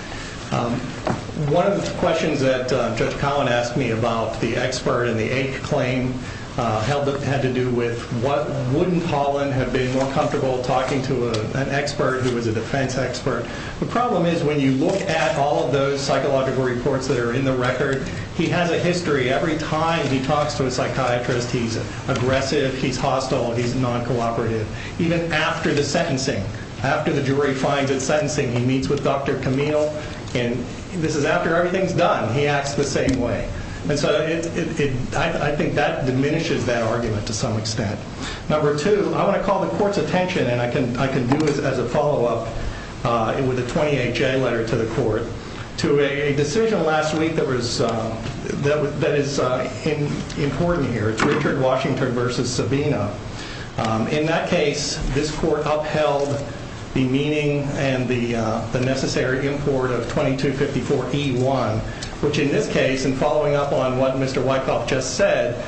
One of the questions that Judge Collin asked me about the expert and the ache claim had to do with what wouldn't Holland have been more comfortable talking to an expert who was a defense expert. The problem is when you look at all of those psychological reports that are in the record, he has a history. Every time he talks to a psychiatrist, he's aggressive, he's hostile, he's non-cooperative. Even after the sentencing, after the jury finds it sentencing, he meets with Dr. Camille, and this is after everything's done. He acts the same way. I think that diminishes that argument to some extent. Number two, I want to call the court's attention, and I can do this as a follow-up with a 28-J letter to the court, to a decision last week that is important here. It's Richard Washington v. Sabino. In that case, this court upheld the meaning and the necessary import of 2254E1, which in this case, and following up on what Mr. Wyckoff just said,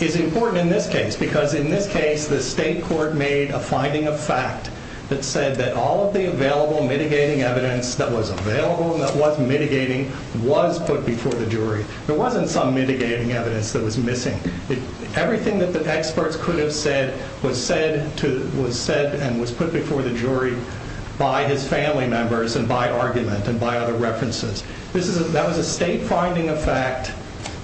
is important in this case because in this case the state court made a finding of fact that said that all of the available mitigating evidence that was available and that was mitigating was put before the jury. There wasn't some mitigating evidence that was missing. Everything that the experts could have said was said and was put before the jury by his family members and by argument and by other references. That was a state finding of fact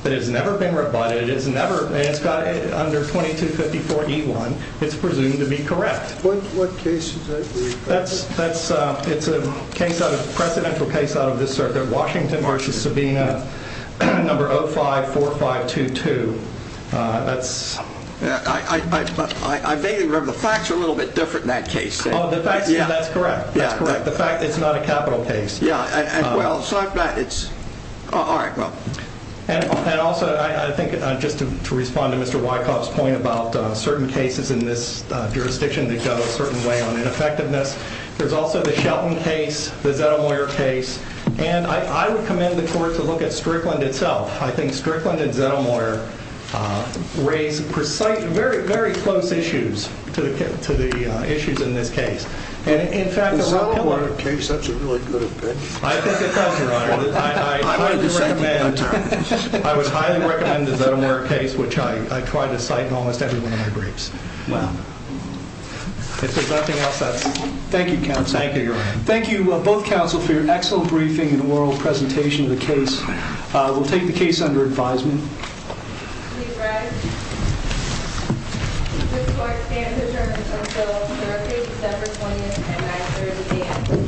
that has never been rebutted. It's got under 2254E1. It's presumed to be correct. What case is that? It's a presidential case out of this circuit, Washington v. Sabino, number 054522. I vaguely remember. The facts are a little bit different in that case. Oh, that's correct. The fact it's not a capital case. Yeah, well, so I'm glad it's... All right, well... And also, I think just to respond to Mr. Wyckoff's point about certain cases in this jurisdiction that go a certain way on ineffectiveness, there's also the Shelton case, the Zettelmeyer case, and I would commend the court to look at Strickland itself. I think Strickland and Zettelmeyer raise precise, very, very close issues to the issues in this case. The Zettelmeyer case, that's a really good opinion. I think it does, Your Honor. I highly recommend... I would highly recommend the Zettelmeyer case, which I try to cite in almost every one of my briefs. Well, if there's nothing else, that's... Thank you, counsel. Thank you, Your Honor. Thank you, both counsel, for your excellent briefing and oral presentation of the case. We'll take the case under advisement. Please rise. This court stands adjourned until Thursday, December 20th, at 930 a.m.